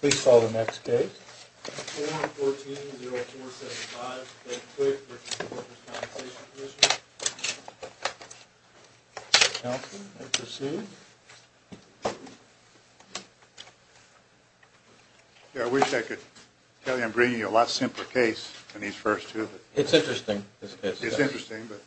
Please call the next case. Yeah, I wish I could tell you I'm bringing you a lot simpler case than these first two. It's interesting. It's interesting, but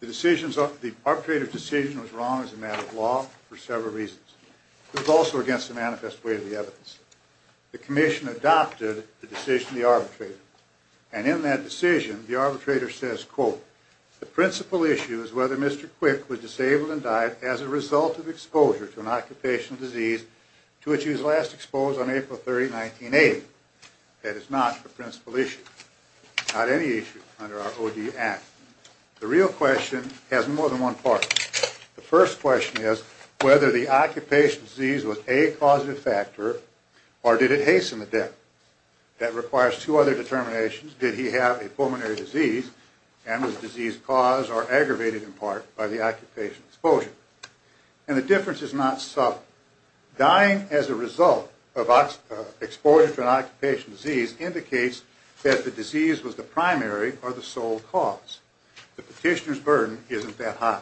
The decision, the arbitrator's decision was wrong as a matter of law for several reasons. It was also against the manifest way of the evidence. The commission adopted the decision of the arbitrator. And in that decision, the arbitrator says, That is not the principal issue. Not any issue under our OD Act. The real question has more than one part. The first question is whether the occupation disease was a causative factor or did it hasten the death. That requires two other determinations. Did he have a pulmonary disease and was the disease caused or aggravated in part by the occupation exposure? And the difference is not subtle. Dying as a result of exposure to an occupation disease indicates that the disease was the primary or the sole cause. The petitioner's burden isn't that high.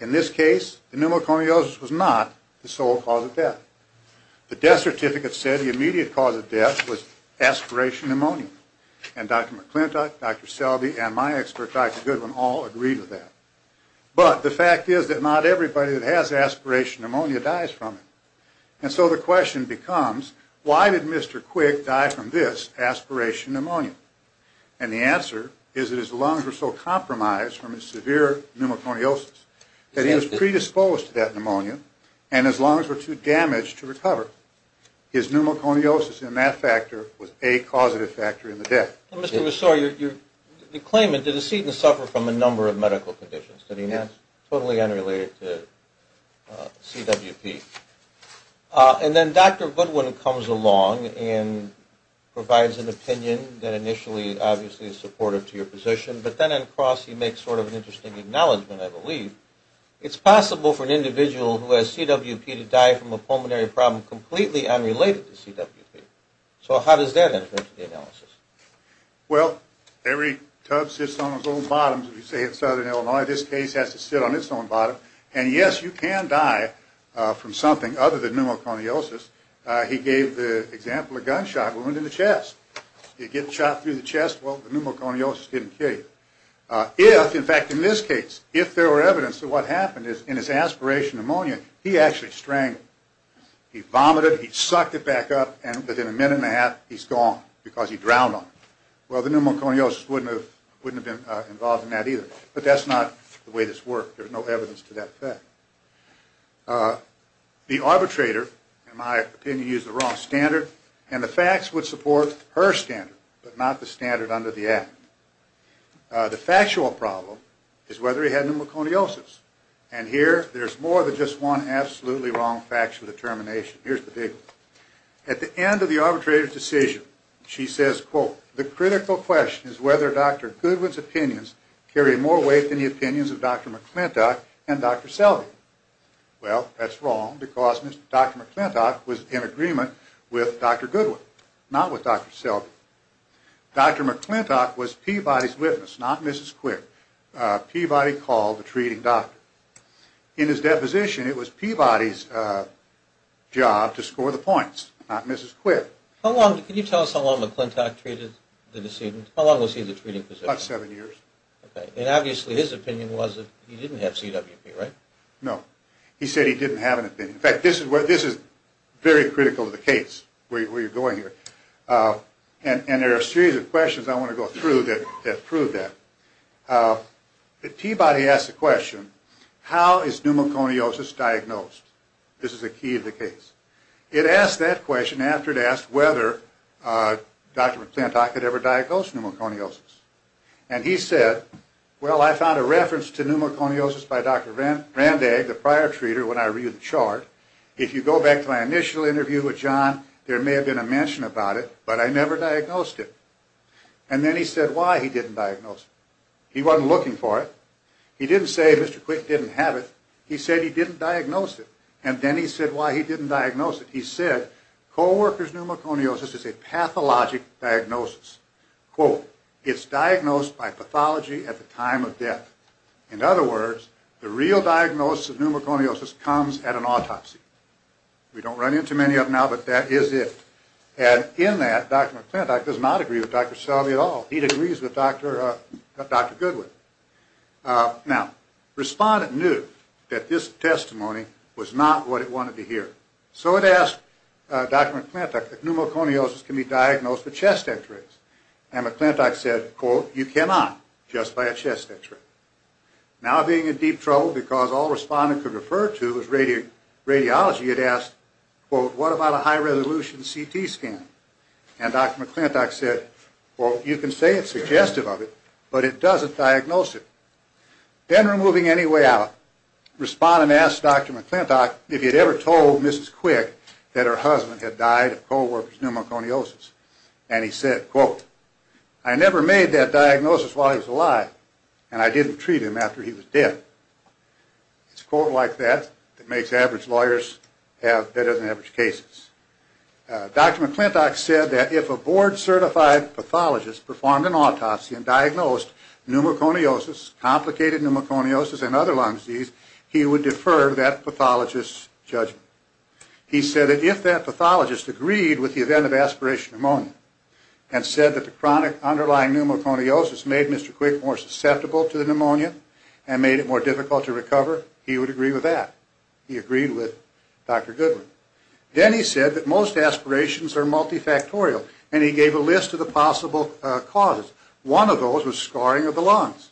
In this case, the pneumoconiosis was not the sole cause of death. The death certificate said the immediate cause of death was aspiration pneumonia. And Dr. McClintock, Dr. Selby, and my expert, Dr. Goodwin, all agreed with that. But the fact is that not everybody that has aspiration pneumonia dies from it. And so the question becomes, why did Mr. Quick die from this aspiration pneumonia? And the answer is that his lungs were so compromised from his severe pneumoconiosis that he was predisposed to that pneumonia and his lungs were too damaged to recover. His pneumoconiosis in that factor was a causative factor in the death. Mr. Rousseau, you claim that the decedent suffered from a number of medical conditions. Yes. Totally unrelated to CWP. And then Dr. Goodwin comes along and provides an opinion that initially, obviously, is supportive to your position. But then, of course, he makes sort of an interesting acknowledgment, I believe. It's possible for an individual who has CWP to die from a pulmonary problem completely unrelated to CWP. So how does that affect the analysis? Well, every tub sits on its own bottom, as we say in southern Illinois. This case has to sit on its own bottom. And, yes, you can die from something other than pneumoconiosis. He gave the example of gunshot wound in the chest. You get shot through the chest, well, the pneumoconiosis didn't kill you. If, in fact, in this case, if there were evidence that what happened is in his aspiration pneumonia, he actually strangled. He vomited, he sucked it back up, and within a minute and a half, he's gone because he drowned on it. Well, the pneumoconiosis wouldn't have been involved in that either. But that's not the way this worked. There's no evidence to that fact. The arbitrator, in my opinion, used the wrong standard. And the facts would support her standard, but not the standard under the Act. The factual problem is whether he had pneumoconiosis. And here, there's more than just one absolutely wrong factual determination. Here's the big one. At the end of the arbitrator's decision, she says, quote, The critical question is whether Dr. Goodwin's opinions carry more weight than the opinions of Dr. McClintock and Dr. Selby. Well, that's wrong because Dr. McClintock was in agreement with Dr. Goodwin, not with Dr. Selby. Dr. McClintock was Peabody's witness, not Mrs. Quick. Peabody called the treating doctor. In his deposition, it was Peabody's job to score the points, not Mrs. Quick. Can you tell us how long McClintock treated the decedent? How long was he in the treating position? About seven years. Okay. And obviously, his opinion was that he didn't have CWP, right? No. He said he didn't have an opinion. In fact, this is very critical to the case where you're going here. And there are a series of questions I want to go through that prove that. But Peabody asked the question, how is pneumoconiosis diagnosed? This is the key of the case. It asked that question after it asked whether Dr. McClintock had ever diagnosed pneumoconiosis. And he said, well, I found a reference to pneumoconiosis by Dr. Randag, the prior treater, when I read the chart. If you go back to my initial interview with John, there may have been a mention about it, but I never diagnosed it. And then he said why he didn't diagnose it. He wasn't looking for it. He didn't say Mr. Quick didn't have it. He said he didn't diagnose it. And then he said why he didn't diagnose it. And he said co-workers' pneumoconiosis is a pathologic diagnosis. Quote, it's diagnosed by pathology at the time of death. In other words, the real diagnosis of pneumoconiosis comes at an autopsy. We don't run into many of them now, but that is it. And in that, Dr. McClintock does not agree with Dr. Selby at all. He agrees with Dr. Goodwin. Now, respondent knew that this testimony was not what it wanted to hear. So it asked Dr. McClintock that pneumoconiosis can be diagnosed with chest x-rays. And McClintock said, quote, you cannot just by a chest x-ray. Now being in deep trouble because all respondent could refer to was radiology, it asked, quote, what about a high-resolution CT scan? And Dr. McClintock said, quote, you can say it's suggestive of it, but it doesn't diagnose it. Then removing any way out, respondent asked Dr. McClintock if he had ever told Mrs. Quick that her husband had died of co-worker's pneumoconiosis. And he said, quote, I never made that diagnosis while he was alive, and I didn't treat him after he was dead. It's a quote like that that makes average lawyers have better-than-average cases. Dr. McClintock said that if a board-certified pathologist performed an autopsy and diagnosed pneumoconiosis, complicated pneumoconiosis, and other lung disease, he would defer that pathologist's judgment. He said that if that pathologist agreed with the event of aspiration pneumonia and said that the underlying pneumoconiosis made Mr. Quick more susceptible to the pneumonia and made it more difficult to recover, he would agree with that. He agreed with Dr. Goodwin. Then he said that most aspirations are multifactorial, and he gave a list of the possible causes. One of those was scarring of the lungs,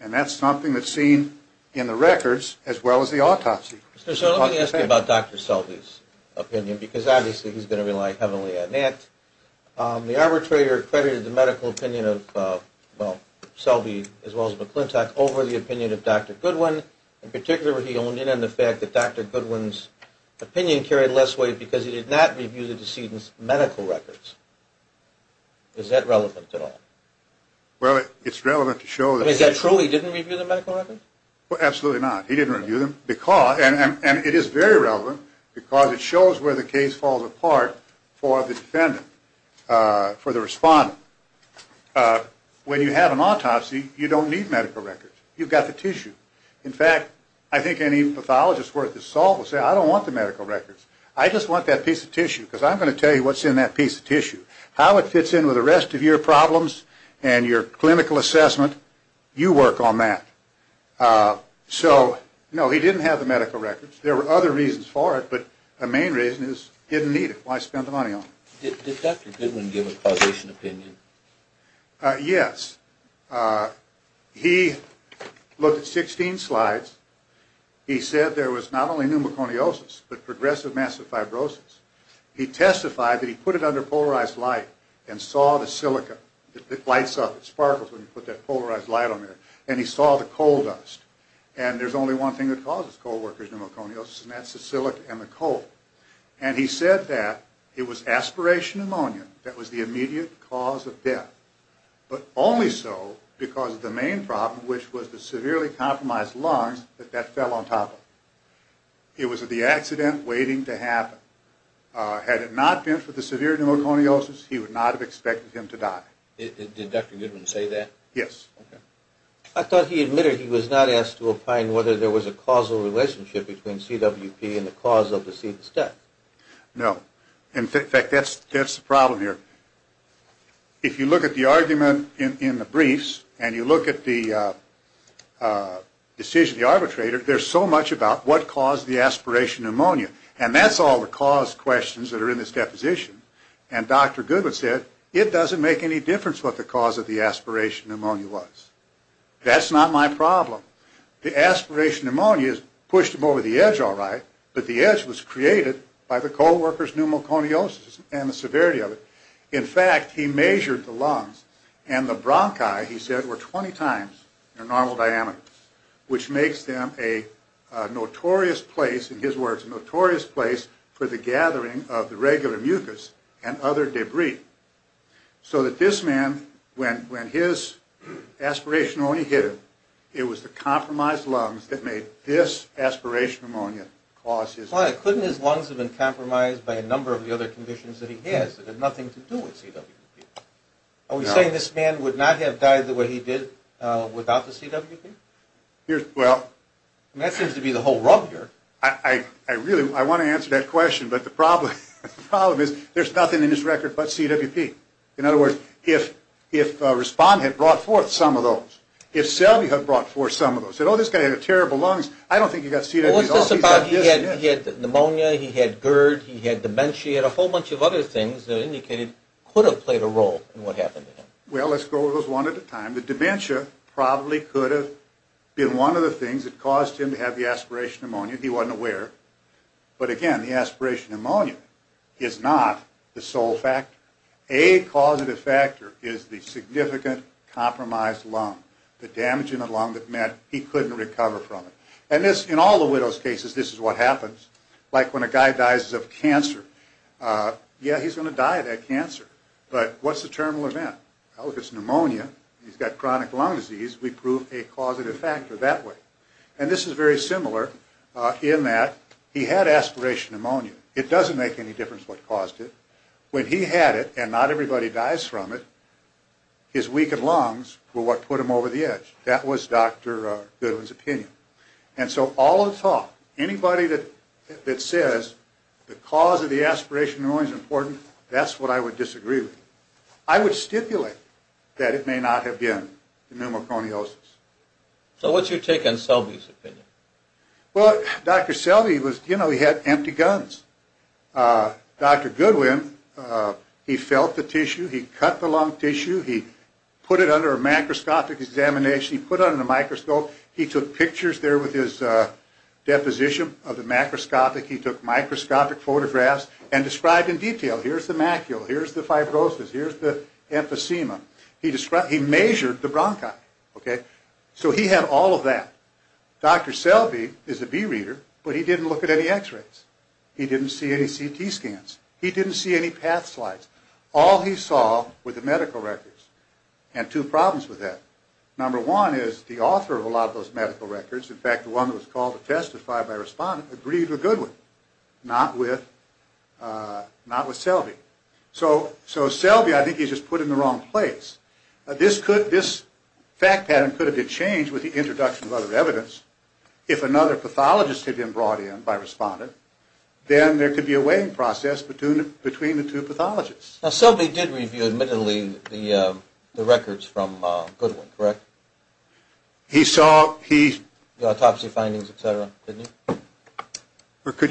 and that's something that's seen in the records as well as the autopsy. So let me ask you about Dr. Selby's opinion, because obviously he's going to rely heavily on that. The arbitrator credited the medical opinion of Selby as well as McClintock over the opinion of Dr. Goodwin. In particular, he owned in on the fact that Dr. Goodwin's opinion carried less weight because he did not review the decedent's medical records. Is that relevant at all? Well, it's relevant to show that... Is that true he didn't review the medical records? Absolutely not. He didn't review them, and it is very relevant because it shows where the case falls apart for the defendant, for the respondent. When you have an autopsy, you don't need medical records. You've got the tissue. In fact, I think any pathologist worth his salt would say, I don't want the medical records. I just want that piece of tissue because I'm going to tell you what's in that piece of tissue, how it fits in with the rest of your problems and your clinical assessment. You work on that. So, no, he didn't have the medical records. There were other reasons for it, but the main reason is he didn't need it. Why spend the money on it? Did Dr. Goodwin give a causation opinion? Yes. He looked at 16 slides. He said there was not only pneumoconiosis but progressive massive fibrosis. He testified that he put it under polarized light and saw the silica. It lights up. It sparkles when you put that polarized light on there. And he saw the coal dust. And there's only one thing that causes coalworkers pneumoconiosis, and that's the silica and the coal. And he said that it was aspiration pneumonia that was the immediate cause of death, but only so because of the main problem, which was the severely compromised lungs, that that fell on top of. It was the accident waiting to happen. Had it not been for the severe pneumoconiosis, he would not have expected him to die. Did Dr. Goodwin say that? Yes. I thought he admitted he was not asked to opine whether there was a causal relationship between CWP and the cause of deceased death. No. In fact, that's the problem here. If you look at the argument in the briefs and you look at the decision of the arbitrator, there's so much about what caused the aspiration pneumonia. And that's all the cause questions that are in this deposition. And Dr. Goodwin said, it doesn't make any difference what the cause of the aspiration pneumonia was. That's not my problem. The aspiration pneumonia has pushed him over the edge all right, but the edge was created by the coalworkers' pneumoconiosis and the severity of it. In fact, he measured the lungs and the bronchi, he said, were 20 times their normal diameter, which makes them a notorious place, in his words, a notorious place for the gathering of the regular mucus and other debris. So that this man, when his aspiration only hit him, it was the compromised lungs that made this aspiration pneumonia cause his death. Couldn't his lungs have been compromised by a number of the other conditions that he has that have nothing to do with CWP? Are we saying this man would not have died the way he did without the CWP? Well... That seems to be the whole rub here. I really want to answer that question, but the problem is there's nothing in this record but CWP. In other words, if Respond had brought forth some of those, if Selby had brought forth some of those, said, oh, this guy had terrible lungs, I don't think he got CWP at all. He had pneumonia, he had GERD, he had dementia, he had a whole bunch of other things that indicated could have played a role in what happened to him. Well, let's go over those one at a time. The dementia probably could have been one of the things that caused him to have the aspiration pneumonia. He wasn't aware. But again, the aspiration pneumonia is not the sole factor. A causative factor is the significant compromised lung, the damage in the lung that meant he couldn't recover from it. And this, in all the widow's cases, this is what happens. Like when a guy dies of cancer. Yeah, he's going to die of that cancer. But what's the terminal event? Well, if it's pneumonia, he's got chronic lung disease, we prove a causative factor that way. And this is very similar in that he had aspiration pneumonia. It doesn't make any difference what caused it. When he had it and not everybody dies from it, his weakened lungs were what put him over the edge. That was Dr. Goodwin's opinion. And so all the talk, anybody that says the cause of the aspiration pneumonia is important, that's what I would disagree with. I would stipulate that it may not have been the pneumoconiosis. So what's your take on Selby's opinion? Well, Dr. Selby was, you know, he had empty guns. Dr. Goodwin, he felt the tissue, he cut the lung tissue, he put it under a macroscopic examination, he put it under a microscope, he took pictures there with his deposition of the macroscopic, he took microscopic photographs and described in detail. Here's the macule, here's the fibrosis, here's the emphysema. He measured the bronchi, okay? So he had all of that. Dr. Selby is a bee reader, but he didn't look at any x-rays. He didn't see any CT scans. He didn't see any path slides. All he saw were the medical records. And two problems with that. Number one is the author of a lot of those medical records, in fact, the one that was called to testify by respondent, agreed with Goodwin, not with Selby. So Selby, I think, he's just put in the wrong place. This fact pattern could have been changed with the introduction of other evidence if another pathologist had been brought in by respondent, then there could be a weighing process between the two pathologists. Now Selby did review, admittedly, the records from Goodwin, correct? He saw the autopsy findings, et cetera, didn't he?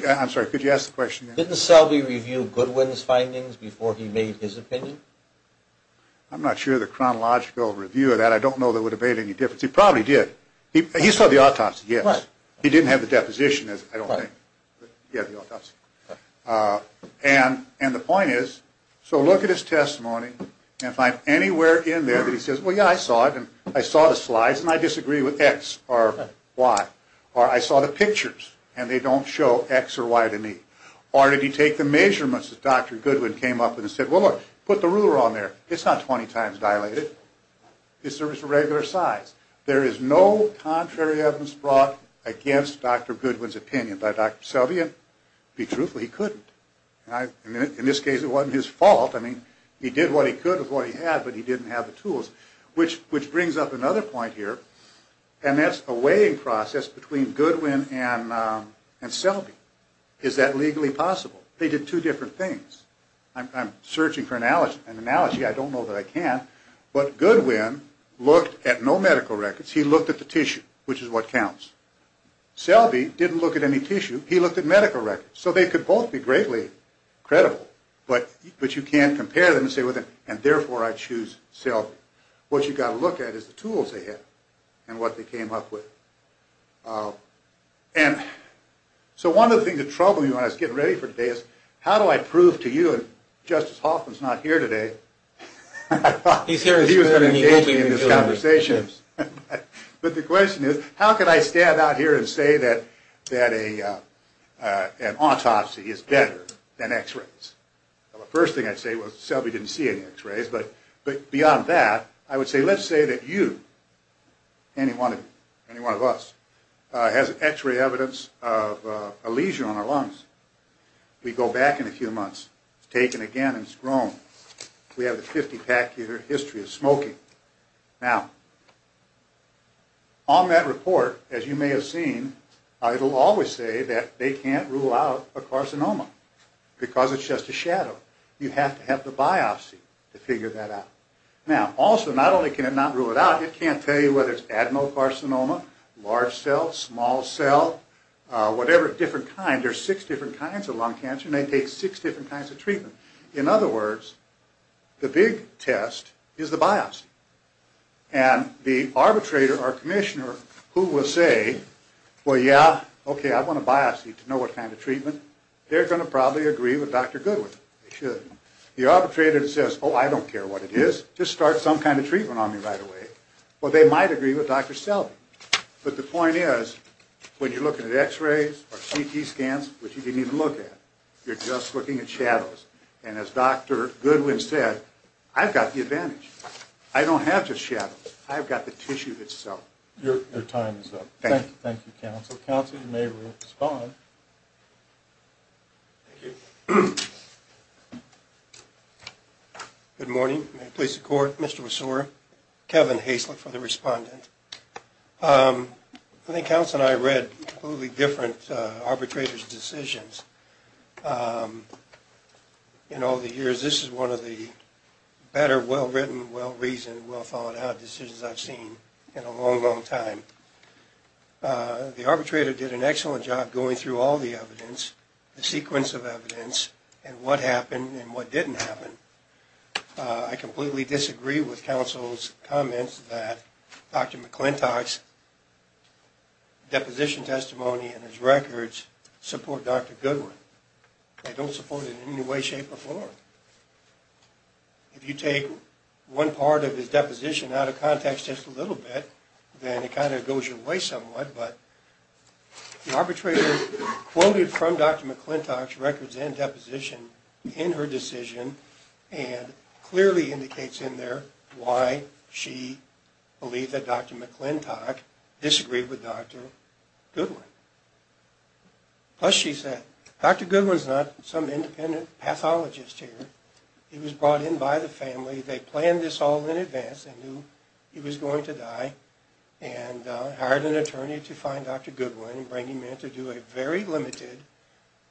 I'm sorry, could you ask the question again? Didn't Selby review Goodwin's findings before he made his opinion? I'm not sure of the chronological review of that. I don't know that it would have made any difference. He probably did. He saw the autopsy, yes. He didn't have the deposition, I don't think. Yeah, the autopsy. And the point is, so look at his testimony, and find anywhere in there that he says, well, yeah, I saw it, and I saw the slides, and I disagree with X or Y. Or I saw the pictures, and they don't show X or Y to me. Or did he take the measurements that Dr. Goodwin came up with and said, well, look, put the ruler on there. It's not 20 times dilated. It serves a regular size. There is no contrary evidence brought against Dr. Goodwin's opinion by Dr. Selby, and to be truthful, he couldn't. In this case, it wasn't his fault. I mean, he did what he could with what he had, but he didn't have the tools. Which brings up another point here, and that's a weighing process between Goodwin and Selby. Is that legally possible? They did two different things. I'm searching for an analogy. I don't know that I can. But Goodwin looked at no medical records. He looked at the tissue, which is what counts. Selby didn't look at any tissue. He looked at medical records. So they could both be greatly credible, but you can't compare them and say, well, and therefore I choose Selby. What you've got to look at is the tools they had and what they came up with. And so one of the things that troubled me when I was getting ready for today is, how do I prove to you that Justice Hoffman's not here today? I thought he was going to engage me in this conversation. But the question is, how can I stand out here and say that an autopsy is better than X-rays? Well, the first thing I'd say was Selby didn't see any X-rays. But beyond that, I would say let's say that you, any one of us, has X-ray evidence of a lesion on our lungs. We go back in a few months. It's taken again and it's grown. We have a 50-pack year history of smoking. Now, on that report, as you may have seen, it will always say that they can't rule out a carcinoma because it's just a shadow. You have to have the biopsy to figure that out. Now, also, not only can it not rule it out, it can't tell you whether it's adenocarcinoma, large cell, small cell, whatever different kind. There are six different kinds of lung cancer and they take six different kinds of treatment. In other words, the big test is the biopsy. And the arbitrator or commissioner who will say, well, yeah, okay, I want a biopsy to know what kind of treatment, they're going to probably agree with Dr. Goodwin. They shouldn't. The arbitrator says, oh, I don't care what it is. Just start some kind of treatment on me right away. Well, they might agree with Dr. Selby. But the point is, when you're looking at x-rays or CT scans, which you didn't even look at, you're just looking at shadows. And as Dr. Goodwin said, I've got the advantage. I don't have just shadows. I've got the tissue itself. Your time is up. Thank you. Thank you, counsel. Counsel, you may respond. Thank you. Good morning. Good morning. May it please the Court. Mr. Resor, Kevin Haislip for the respondent. I think counsel and I read completely different arbitrators' decisions in all the years. This is one of the better, well-written, well-reasoned, well-thought-out decisions I've seen in a long, long time. The arbitrator did an excellent job going through all the evidence, the sequence of evidence, and what happened and what didn't happen. I completely disagree with counsel's comments that Dr. McClintock's deposition testimony and his records support Dr. Goodwin. They don't support it in any way, shape, or form. If you take one part of his deposition out of context just a little bit, then it kind of goes your way somewhat. But the arbitrator quoted from Dr. McClintock's records and deposition in her decision and clearly indicates in there why she believed that Dr. McClintock disagreed with Dr. Goodwin. Plus she said, Dr. Goodwin's not some independent pathologist here. He was brought in by the family. They planned this all in advance and knew he was going to die and hired an attorney to find Dr. Goodwin and bring him in to do a very limited,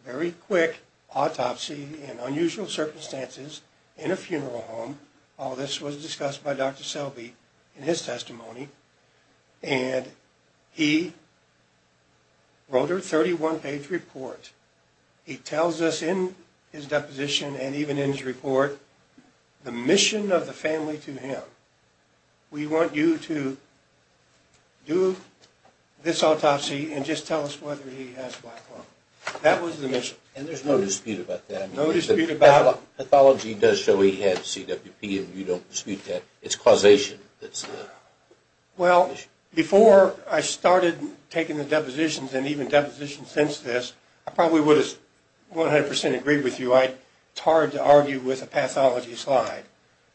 very quick autopsy in unusual circumstances in a funeral home. All this was discussed by Dr. Selby in his testimony. And he wrote her a 31-page report. He tells us in his deposition and even in his report the mission of the family to him. We want you to do this autopsy and just tell us whether he has black lung. That was the mission. And there's no dispute about that? No dispute about it. Well, pathology does show he had CWP and you don't dispute that. It's causation that's the issue. Well, before I started taking the depositions and even depositions since this, I probably would have 100 percent agreed with you. It's hard to argue with a pathology slide.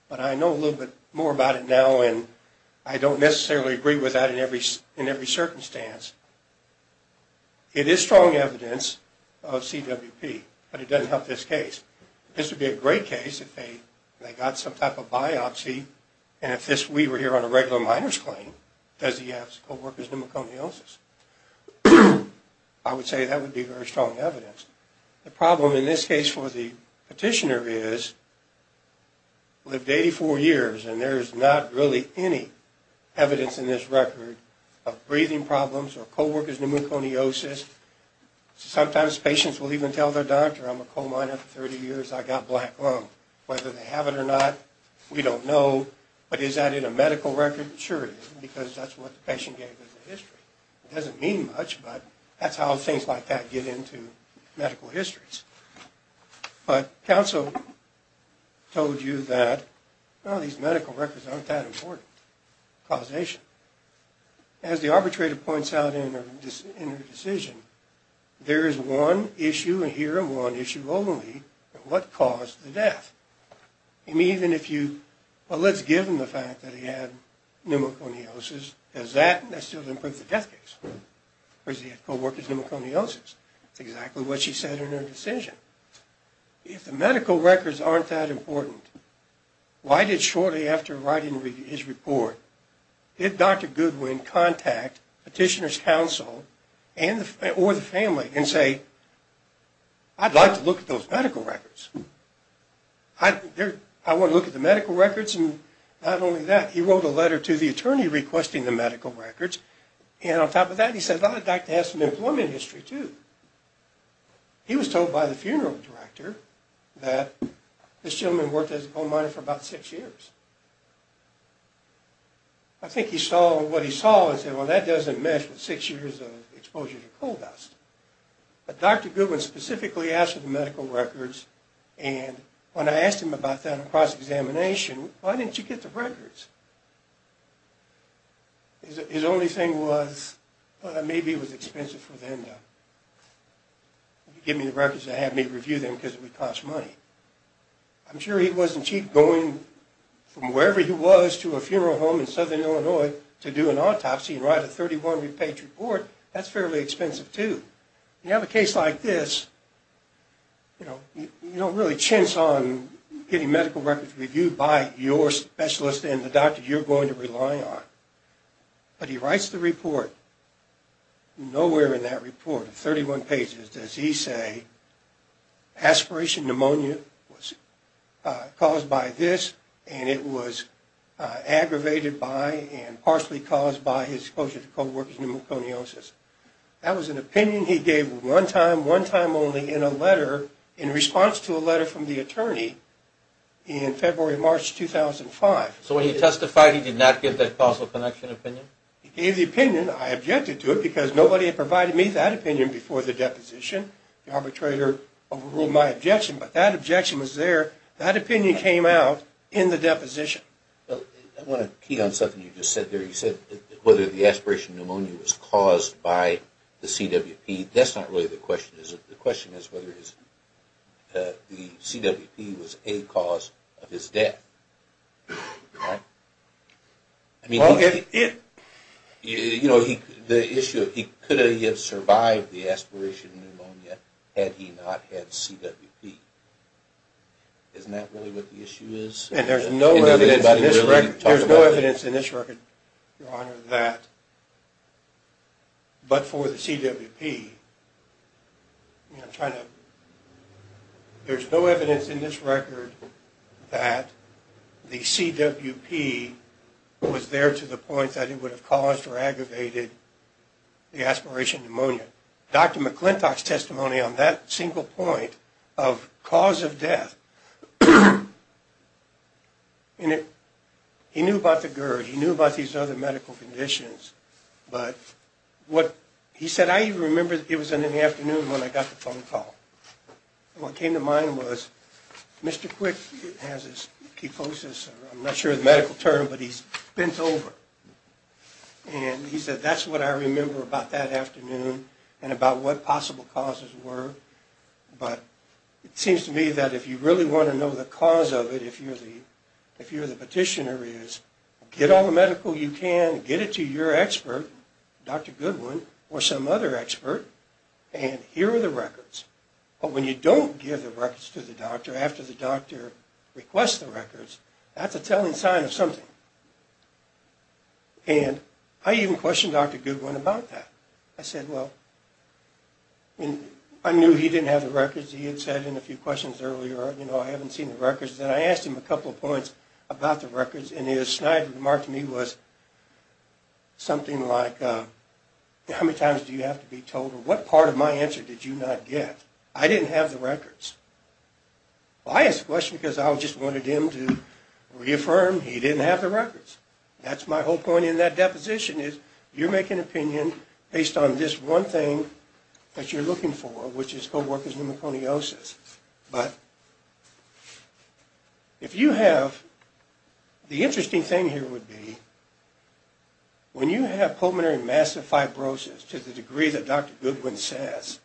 But I know a little bit more about it now and I don't necessarily agree with that in every circumstance. It is strong evidence of CWP, but it doesn't help this case. This would be a great case if they got some type of biopsy and if we were here on a regular minor's claim, does he have co-worker's pneumoconiosis? I would say that would be very strong evidence. The problem in this case for the petitioner is he lived 84 years and there is not really any evidence in this record of breathing problems or co-worker's pneumoconiosis. Sometimes patients will even tell their doctor, I'm a co-minor for 30 years, I got black lung. Whether they have it or not, we don't know. But is that in a medical record? It sure is because that's what the patient gave as a history. It doesn't mean much, but that's how things like that get into medical histories. But counsel told you that these medical records aren't that important. Causation. As the arbitrator points out in her decision, there is one issue here and one issue only. What caused the death? And even if you, well let's give him the fact that he had pneumoconiosis, does that still improve the death case? Of course he had co-worker's pneumoconiosis. That's exactly what she said in her decision. If the medical records aren't that important, why did shortly after writing his report, did Dr. Goodwin contact petitioner's counsel or the family and say, I'd like to look at those medical records. I want to look at the medical records and not only that, he wrote a letter to the attorney requesting the medical records, and on top of that he said, well, the doctor has some employment history too. He was told by the funeral director that this gentleman worked as a coal miner for about six years. I think he saw what he saw and said, well, that doesn't mesh with six years of exposure to coal dust. But Dr. Goodwin specifically asked for the medical records, and when I asked him about that on cross-examination, why didn't you get the records? His only thing was, well, maybe it was expensive for them to give me the records and have me review them because it would cost money. I'm sure he wasn't cheap going from wherever he was to a funeral home in southern Illinois to do an autopsy and write a 31-page report. That's fairly expensive too. You have a case like this, you know, you don't really chance on getting medical records reviewed by your specialist and the doctor you're going to rely on. But he writes the report. Nowhere in that report, 31 pages, does he say aspiration pneumonia was caused by this and it was aggravated by and partially caused by his exposure to coal working pneumoconiosis. That was an opinion he gave one time, one time only in a letter, in response to a letter from the attorney in February, March 2005. So when he testified, he did not give that causal connection opinion? He gave the opinion. I objected to it because nobody had provided me that opinion before the deposition. The arbitrator overruled my objection, but that objection was there. That opinion came out in the deposition. I want to key on something you just said there. You said whether the aspiration pneumonia was caused by the CWP. That's not really the question, is it? The question is whether the CWP was a cause of his death. You know, the issue, he could have survived the aspiration pneumonia had he not had CWP. Isn't that really what the issue is? And there's no evidence in this record, Your Honor, that but for the CWP, I'm trying to, there's no evidence in this record that the CWP was there to the point that it would have caused or aggravated the aspiration pneumonia. But Dr. McClintock's testimony on that single point of cause of death, he knew about the GERD. He knew about these other medical conditions. But what he said, I even remember it was in the afternoon when I got the phone call. What came to mind was Mr. Quick has a sclerosis. I'm not sure of the medical term, but he's bent over. And he said, that's what I remember about that afternoon and about what possible causes were. But it seems to me that if you really want to know the cause of it, if you're the petitioner, is get all the medical you can, get it to your expert, Dr. Goodwin, or some other expert, and here are the records. But when you don't give the records to the doctor after the doctor requests the records, that's a telling sign of something. And I even questioned Dr. Goodwin about that. I said, well, I knew he didn't have the records. He had said in a few questions earlier, you know, I haven't seen the records. Then I asked him a couple of points about the records, and his snide remark to me was something like, how many times do you have to be told, or what part of my answer did you not get? I didn't have the records. Well, I asked the question because I just wanted him to reaffirm he didn't have the records. That's my whole point in that deposition is, you're making an opinion based on this one thing that you're looking for, which is co-workers' pneumoconiosis. But if you have, the interesting thing here would be, when you have pulmonary massive fibrosis to the degree that Dr. Goodwin says,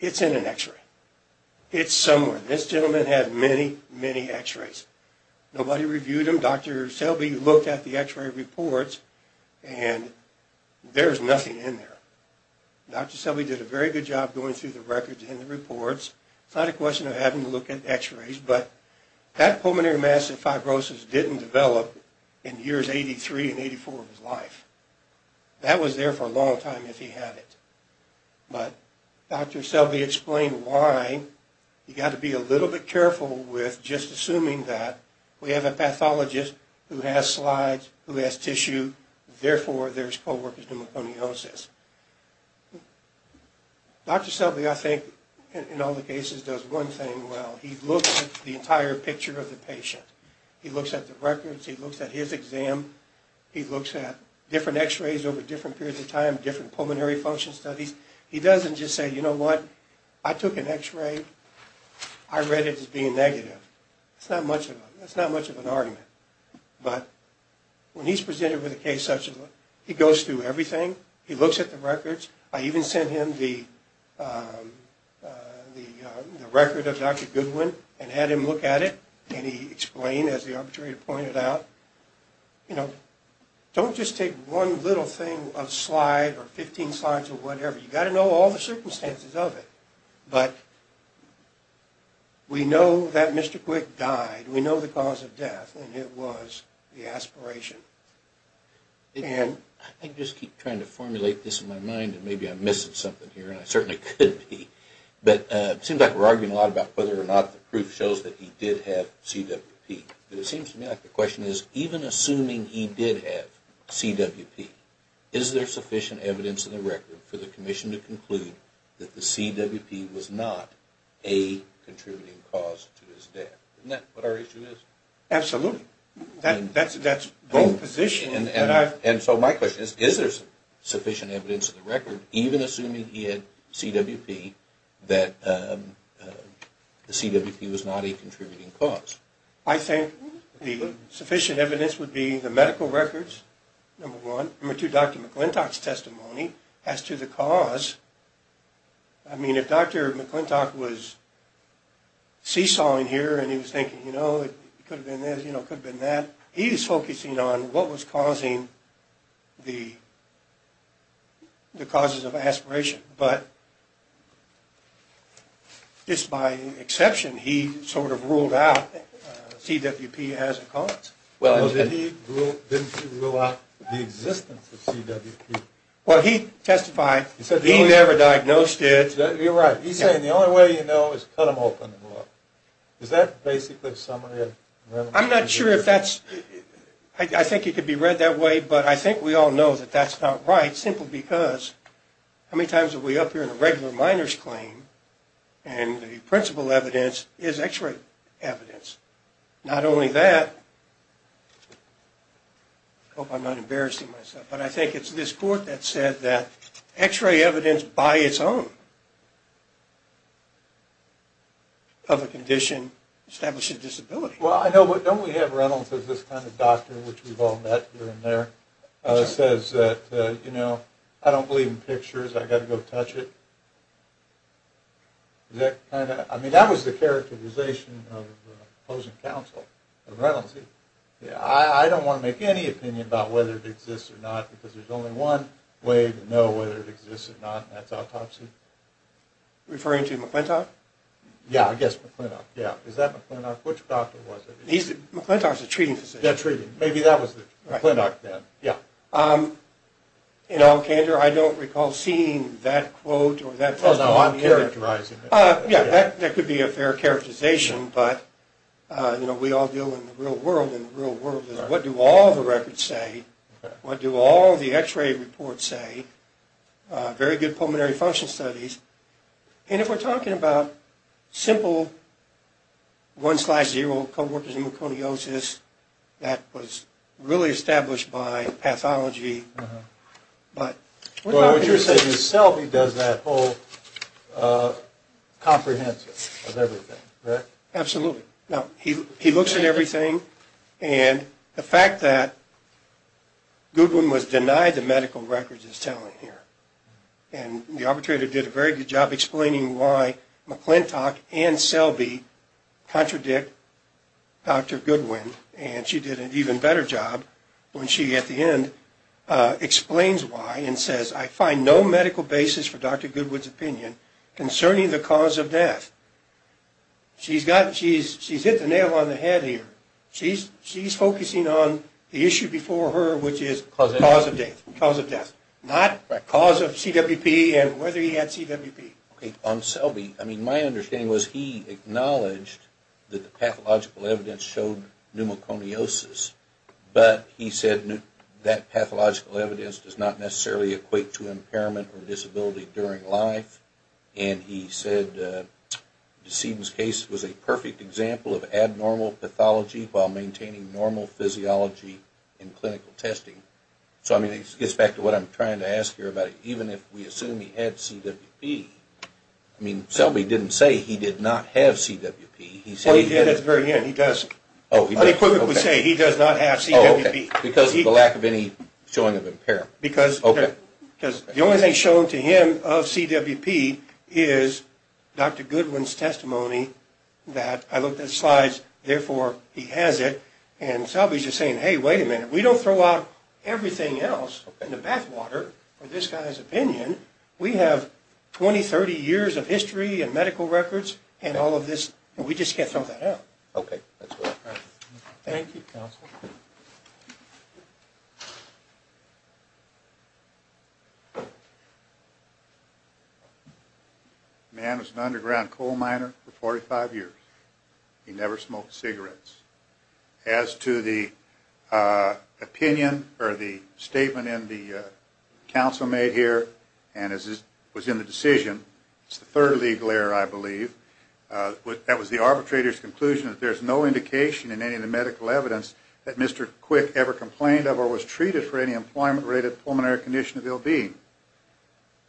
it's in an x-ray. It's somewhere. This gentleman had many, many x-rays. Nobody reviewed them. Dr. Selby looked at the x-ray reports, and there's nothing in there. Dr. Selby did a very good job going through the records and the reports. It's not a question of having to look at x-rays, but that pulmonary massive fibrosis didn't develop in years 83 and 84 of his life. That was there for a long time if he had it. But Dr. Selby explained why you've got to be a little bit careful with just assuming that we have a pathologist who has slides, who has tissue, therefore there's co-workers' pneumoconiosis. Dr. Selby, I think, in all the cases, does one thing well. He looks at the entire picture of the patient. He looks at the records. He looks at his exam. He looks at different x-rays over different periods of time, different pulmonary function studies. He doesn't just say, you know what, I took an x-ray. I read it as being negative. That's not much of an argument. But when he's presented with a case such as that, he goes through everything. He looks at the records. I even sent him the record of Dr. Goodwin and had him look at it, and he explained, as the arbitrator pointed out, you know, don't just take one little thing, a slide or 15 slides or whatever. You've got to know all the circumstances of it. But we know that Mr. Quick died. We know the cause of death, and it was the aspiration. I just keep trying to formulate this in my mind, and maybe I'm missing something here, and I certainly could be. But it seems like we're arguing a lot about whether or not the proof shows that he did have CWP. But it seems to me like the question is, even assuming he did have CWP, is there sufficient evidence in the record for the commission to conclude that the CWP was not a contributing cause to his death? Isn't that what our issue is? Absolutely. That's both positions. And so my question is, is there sufficient evidence in the record, even assuming he had CWP, that the CWP was not a contributing cause? I think the sufficient evidence would be the medical records, number one. Number two, Dr. McClintock's testimony as to the cause. I mean, if Dr. McClintock was seesawing here and he was thinking, you know, it could have been this, you know, it could have been that, he was focusing on what was causing the causes of aspiration. But just by exception, he sort of ruled out CWP as a cause. Well, didn't he rule out the existence of CWP? Well, he testified he never diagnosed it. You're right. He's saying the only way you know is to cut them open and look. Is that basically a summary of the evidence? I'm not sure if that's – I think it could be read that way, but I think we all know that that's not right, simply because how many times have we up here in a regular minor's claim and the principal evidence is X-ray evidence? Not only that – I hope I'm not embarrassing myself – but I think it's this court that said that X-ray evidence by its own of a condition establishes disability. Well, I know, but don't we have Reynolds as this kind of doctor, which we've all met here and there, says that, you know, I don't believe in pictures, I've got to go touch it? I mean, that was the characterization of opposing counsel of Reynolds. I don't want to make any opinion about whether it exists or not, because there's only one way to know whether it exists or not, and that's autopsy. Are you referring to McClintock? Yeah, I guess McClintock, yeah. Is that McClintock? Which doctor was it? McClintock's a treating physician. Yeah, treating. Maybe that was McClintock then, yeah. In all candor, I don't recall seeing that quote or that testimony here. Oh, no, I'm characterizing it. Yeah, that could be a fair characterization, but, you know, we all deal in the real world in the real world. What do all the records say? What do all the X-ray reports say? Very good pulmonary function studies. And if we're talking about simple one-slash-zero co-worker's hemoconiosis that was really established by pathology, but... Well, what you're saying is that Selby does that whole comprehensive of everything, right? Absolutely. Now, he looks at everything, and the fact that Goodwin was denied the medical records is telling here. And the arbitrator did a very good job explaining why McClintock and Selby contradict Dr. Goodwin, and she did an even better job when she, at the end, explains why and says, I find no medical basis for Dr. Goodwin's opinion concerning the cause of death. She's hit the nail on the head here. She's focusing on the issue before her, which is cause of death. Not the cause of CWP and whether he had CWP. Okay. On Selby, I mean, my understanding was he acknowledged that the pathological evidence showed pneumoconiosis, but he said that pathological evidence does not necessarily equate to impairment or disability during life, and he said DeSedin's case was a perfect example of abnormal pathology while maintaining normal physiology in clinical testing. So, I mean, it gets back to what I'm trying to ask here about even if we assume he had CWP. I mean, Selby didn't say he did not have CWP. He said he had. Well, he did at the very end. He does. Oh, he does. But equivocally say he does not have CWP. Oh, okay. Because of the lack of any showing of impairment. Because. Okay. Because the only thing shown to him of CWP is Dr. Goodwin's testimony that I looked at slides, therefore he has it, and Selby's just saying, hey, wait a minute. We don't throw out everything else in the bathwater for this guy's opinion. We have 20, 30 years of history and medical records and all of this, and we just can't throw that out. Okay. That's what I'm trying to say. Thank you, counsel. The man was an underground coal miner for 45 years. He never smoked cigarettes. As to the opinion or the statement in the counsel made here, and as was in the decision, it's the third legal error, I believe, that was the arbitrator's conclusion that there's no indication in any of the medical evidence that Mr. Quick ever complained of or was treated for any employment-related pulmonary condition of ill-being.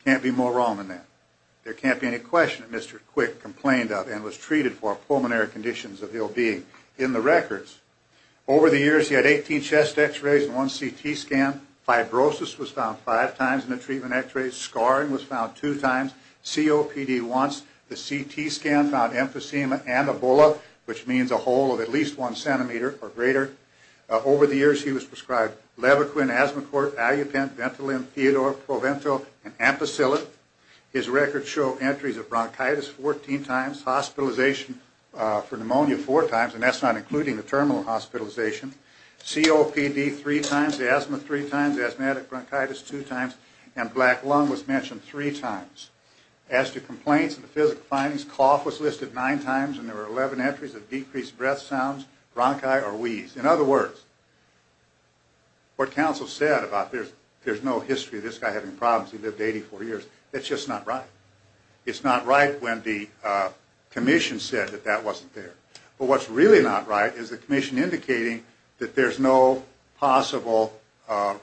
Can't be more wrong than that. There can't be any question that Mr. Quick complained of and was treated for pulmonary conditions of ill-being. In the records, over the years, he had 18 chest X-rays and one CT scan. Fibrosis was found five times in the treatment X-rays. Scarring was found two times. COPD once. The CT scan found emphysema and Ebola, which means a hole of at least one centimeter or greater. Over the years, he was prescribed Levaquin, Asmocort, Allupin, Ventolin, Theodore, Provento, and Ampicillin. His records show entries of bronchitis 14 times. Hospitalization for pneumonia four times, and that's not including the terminal hospitalization. COPD three times. Asthma three times. Asthmatic bronchitis two times. And black lung was mentioned three times. As to complaints and physical findings, cough was listed nine times, and there were 11 entries of decreased breath sounds, bronchi, or wheeze. In other words, what counsel said about there's no history of this guy having problems, he lived 84 years, that's just not right. It's not right when the commission said that that wasn't there. But what's really not right is the commission indicating that there's no possible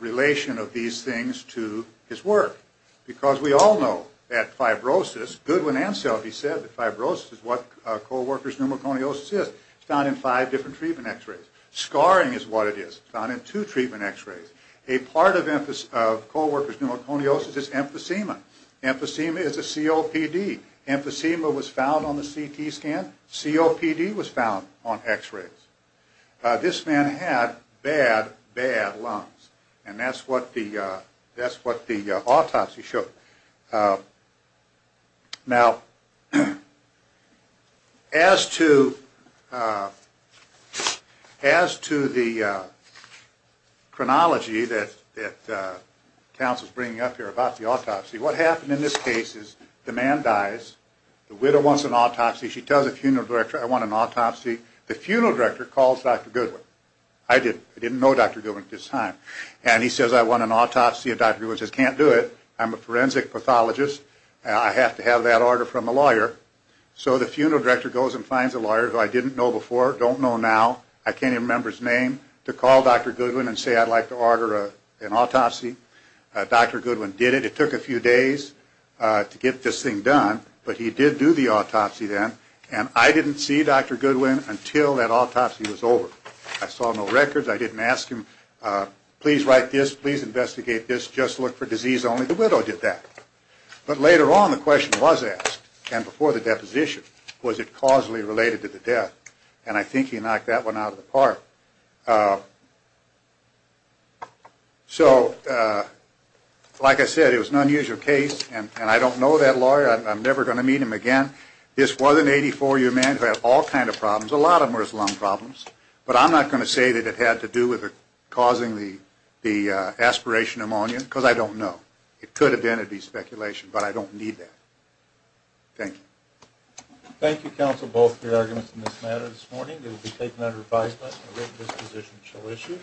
relation of these things to his work. Because we all know that fibrosis, Goodwin and Selby said that fibrosis is what coworkers' pneumoconiosis is. It's found in five different treatment X-rays. Scarring is what it is. It's found in two treatment X-rays. A part of coworkers' pneumoconiosis is emphysema. Emphysema is a COPD. Emphysema was found on the CT scan. COPD was found on X-rays. This man had bad, bad lungs, and that's what the autopsy showed. Now, as to the chronology that counsel's bringing up here about the autopsy, what happened in this case is the man dies, the widow wants an autopsy, she tells the funeral director, I want an autopsy. The funeral director calls Dr. Goodwin. I didn't know Dr. Goodwin at this time. And he says, I want an autopsy. And Dr. Goodwin says, can't do it. I'm a forensic pathologist. I have to have that order from a lawyer. So the funeral director goes and finds a lawyer who I didn't know before, don't know now, I can't even remember his name, to call Dr. Goodwin and say I'd like to order an autopsy. Dr. Goodwin did it. It took a few days to get this thing done, but he did do the autopsy then. And I didn't see Dr. Goodwin until that autopsy was over. I saw no records. I didn't ask him, please write this. Please investigate this. Just look for disease only. The widow did that. But later on the question was asked, and before the deposition, was it causally related to the death? And I think he knocked that one out of the park. So like I said, it was an unusual case, and I don't know that lawyer. I'm never going to meet him again. This was an 84-year-old man who had all kinds of problems. A lot of them were his lung problems. But I'm not going to say that it had to do with causing the aspiration pneumonia, because I don't know. It could have been. It would be speculation, but I don't need that. Thank you. Thank you, counsel, both for your arguments in this matter this morning. It will be taken under revised by us and a written disposition shall issue.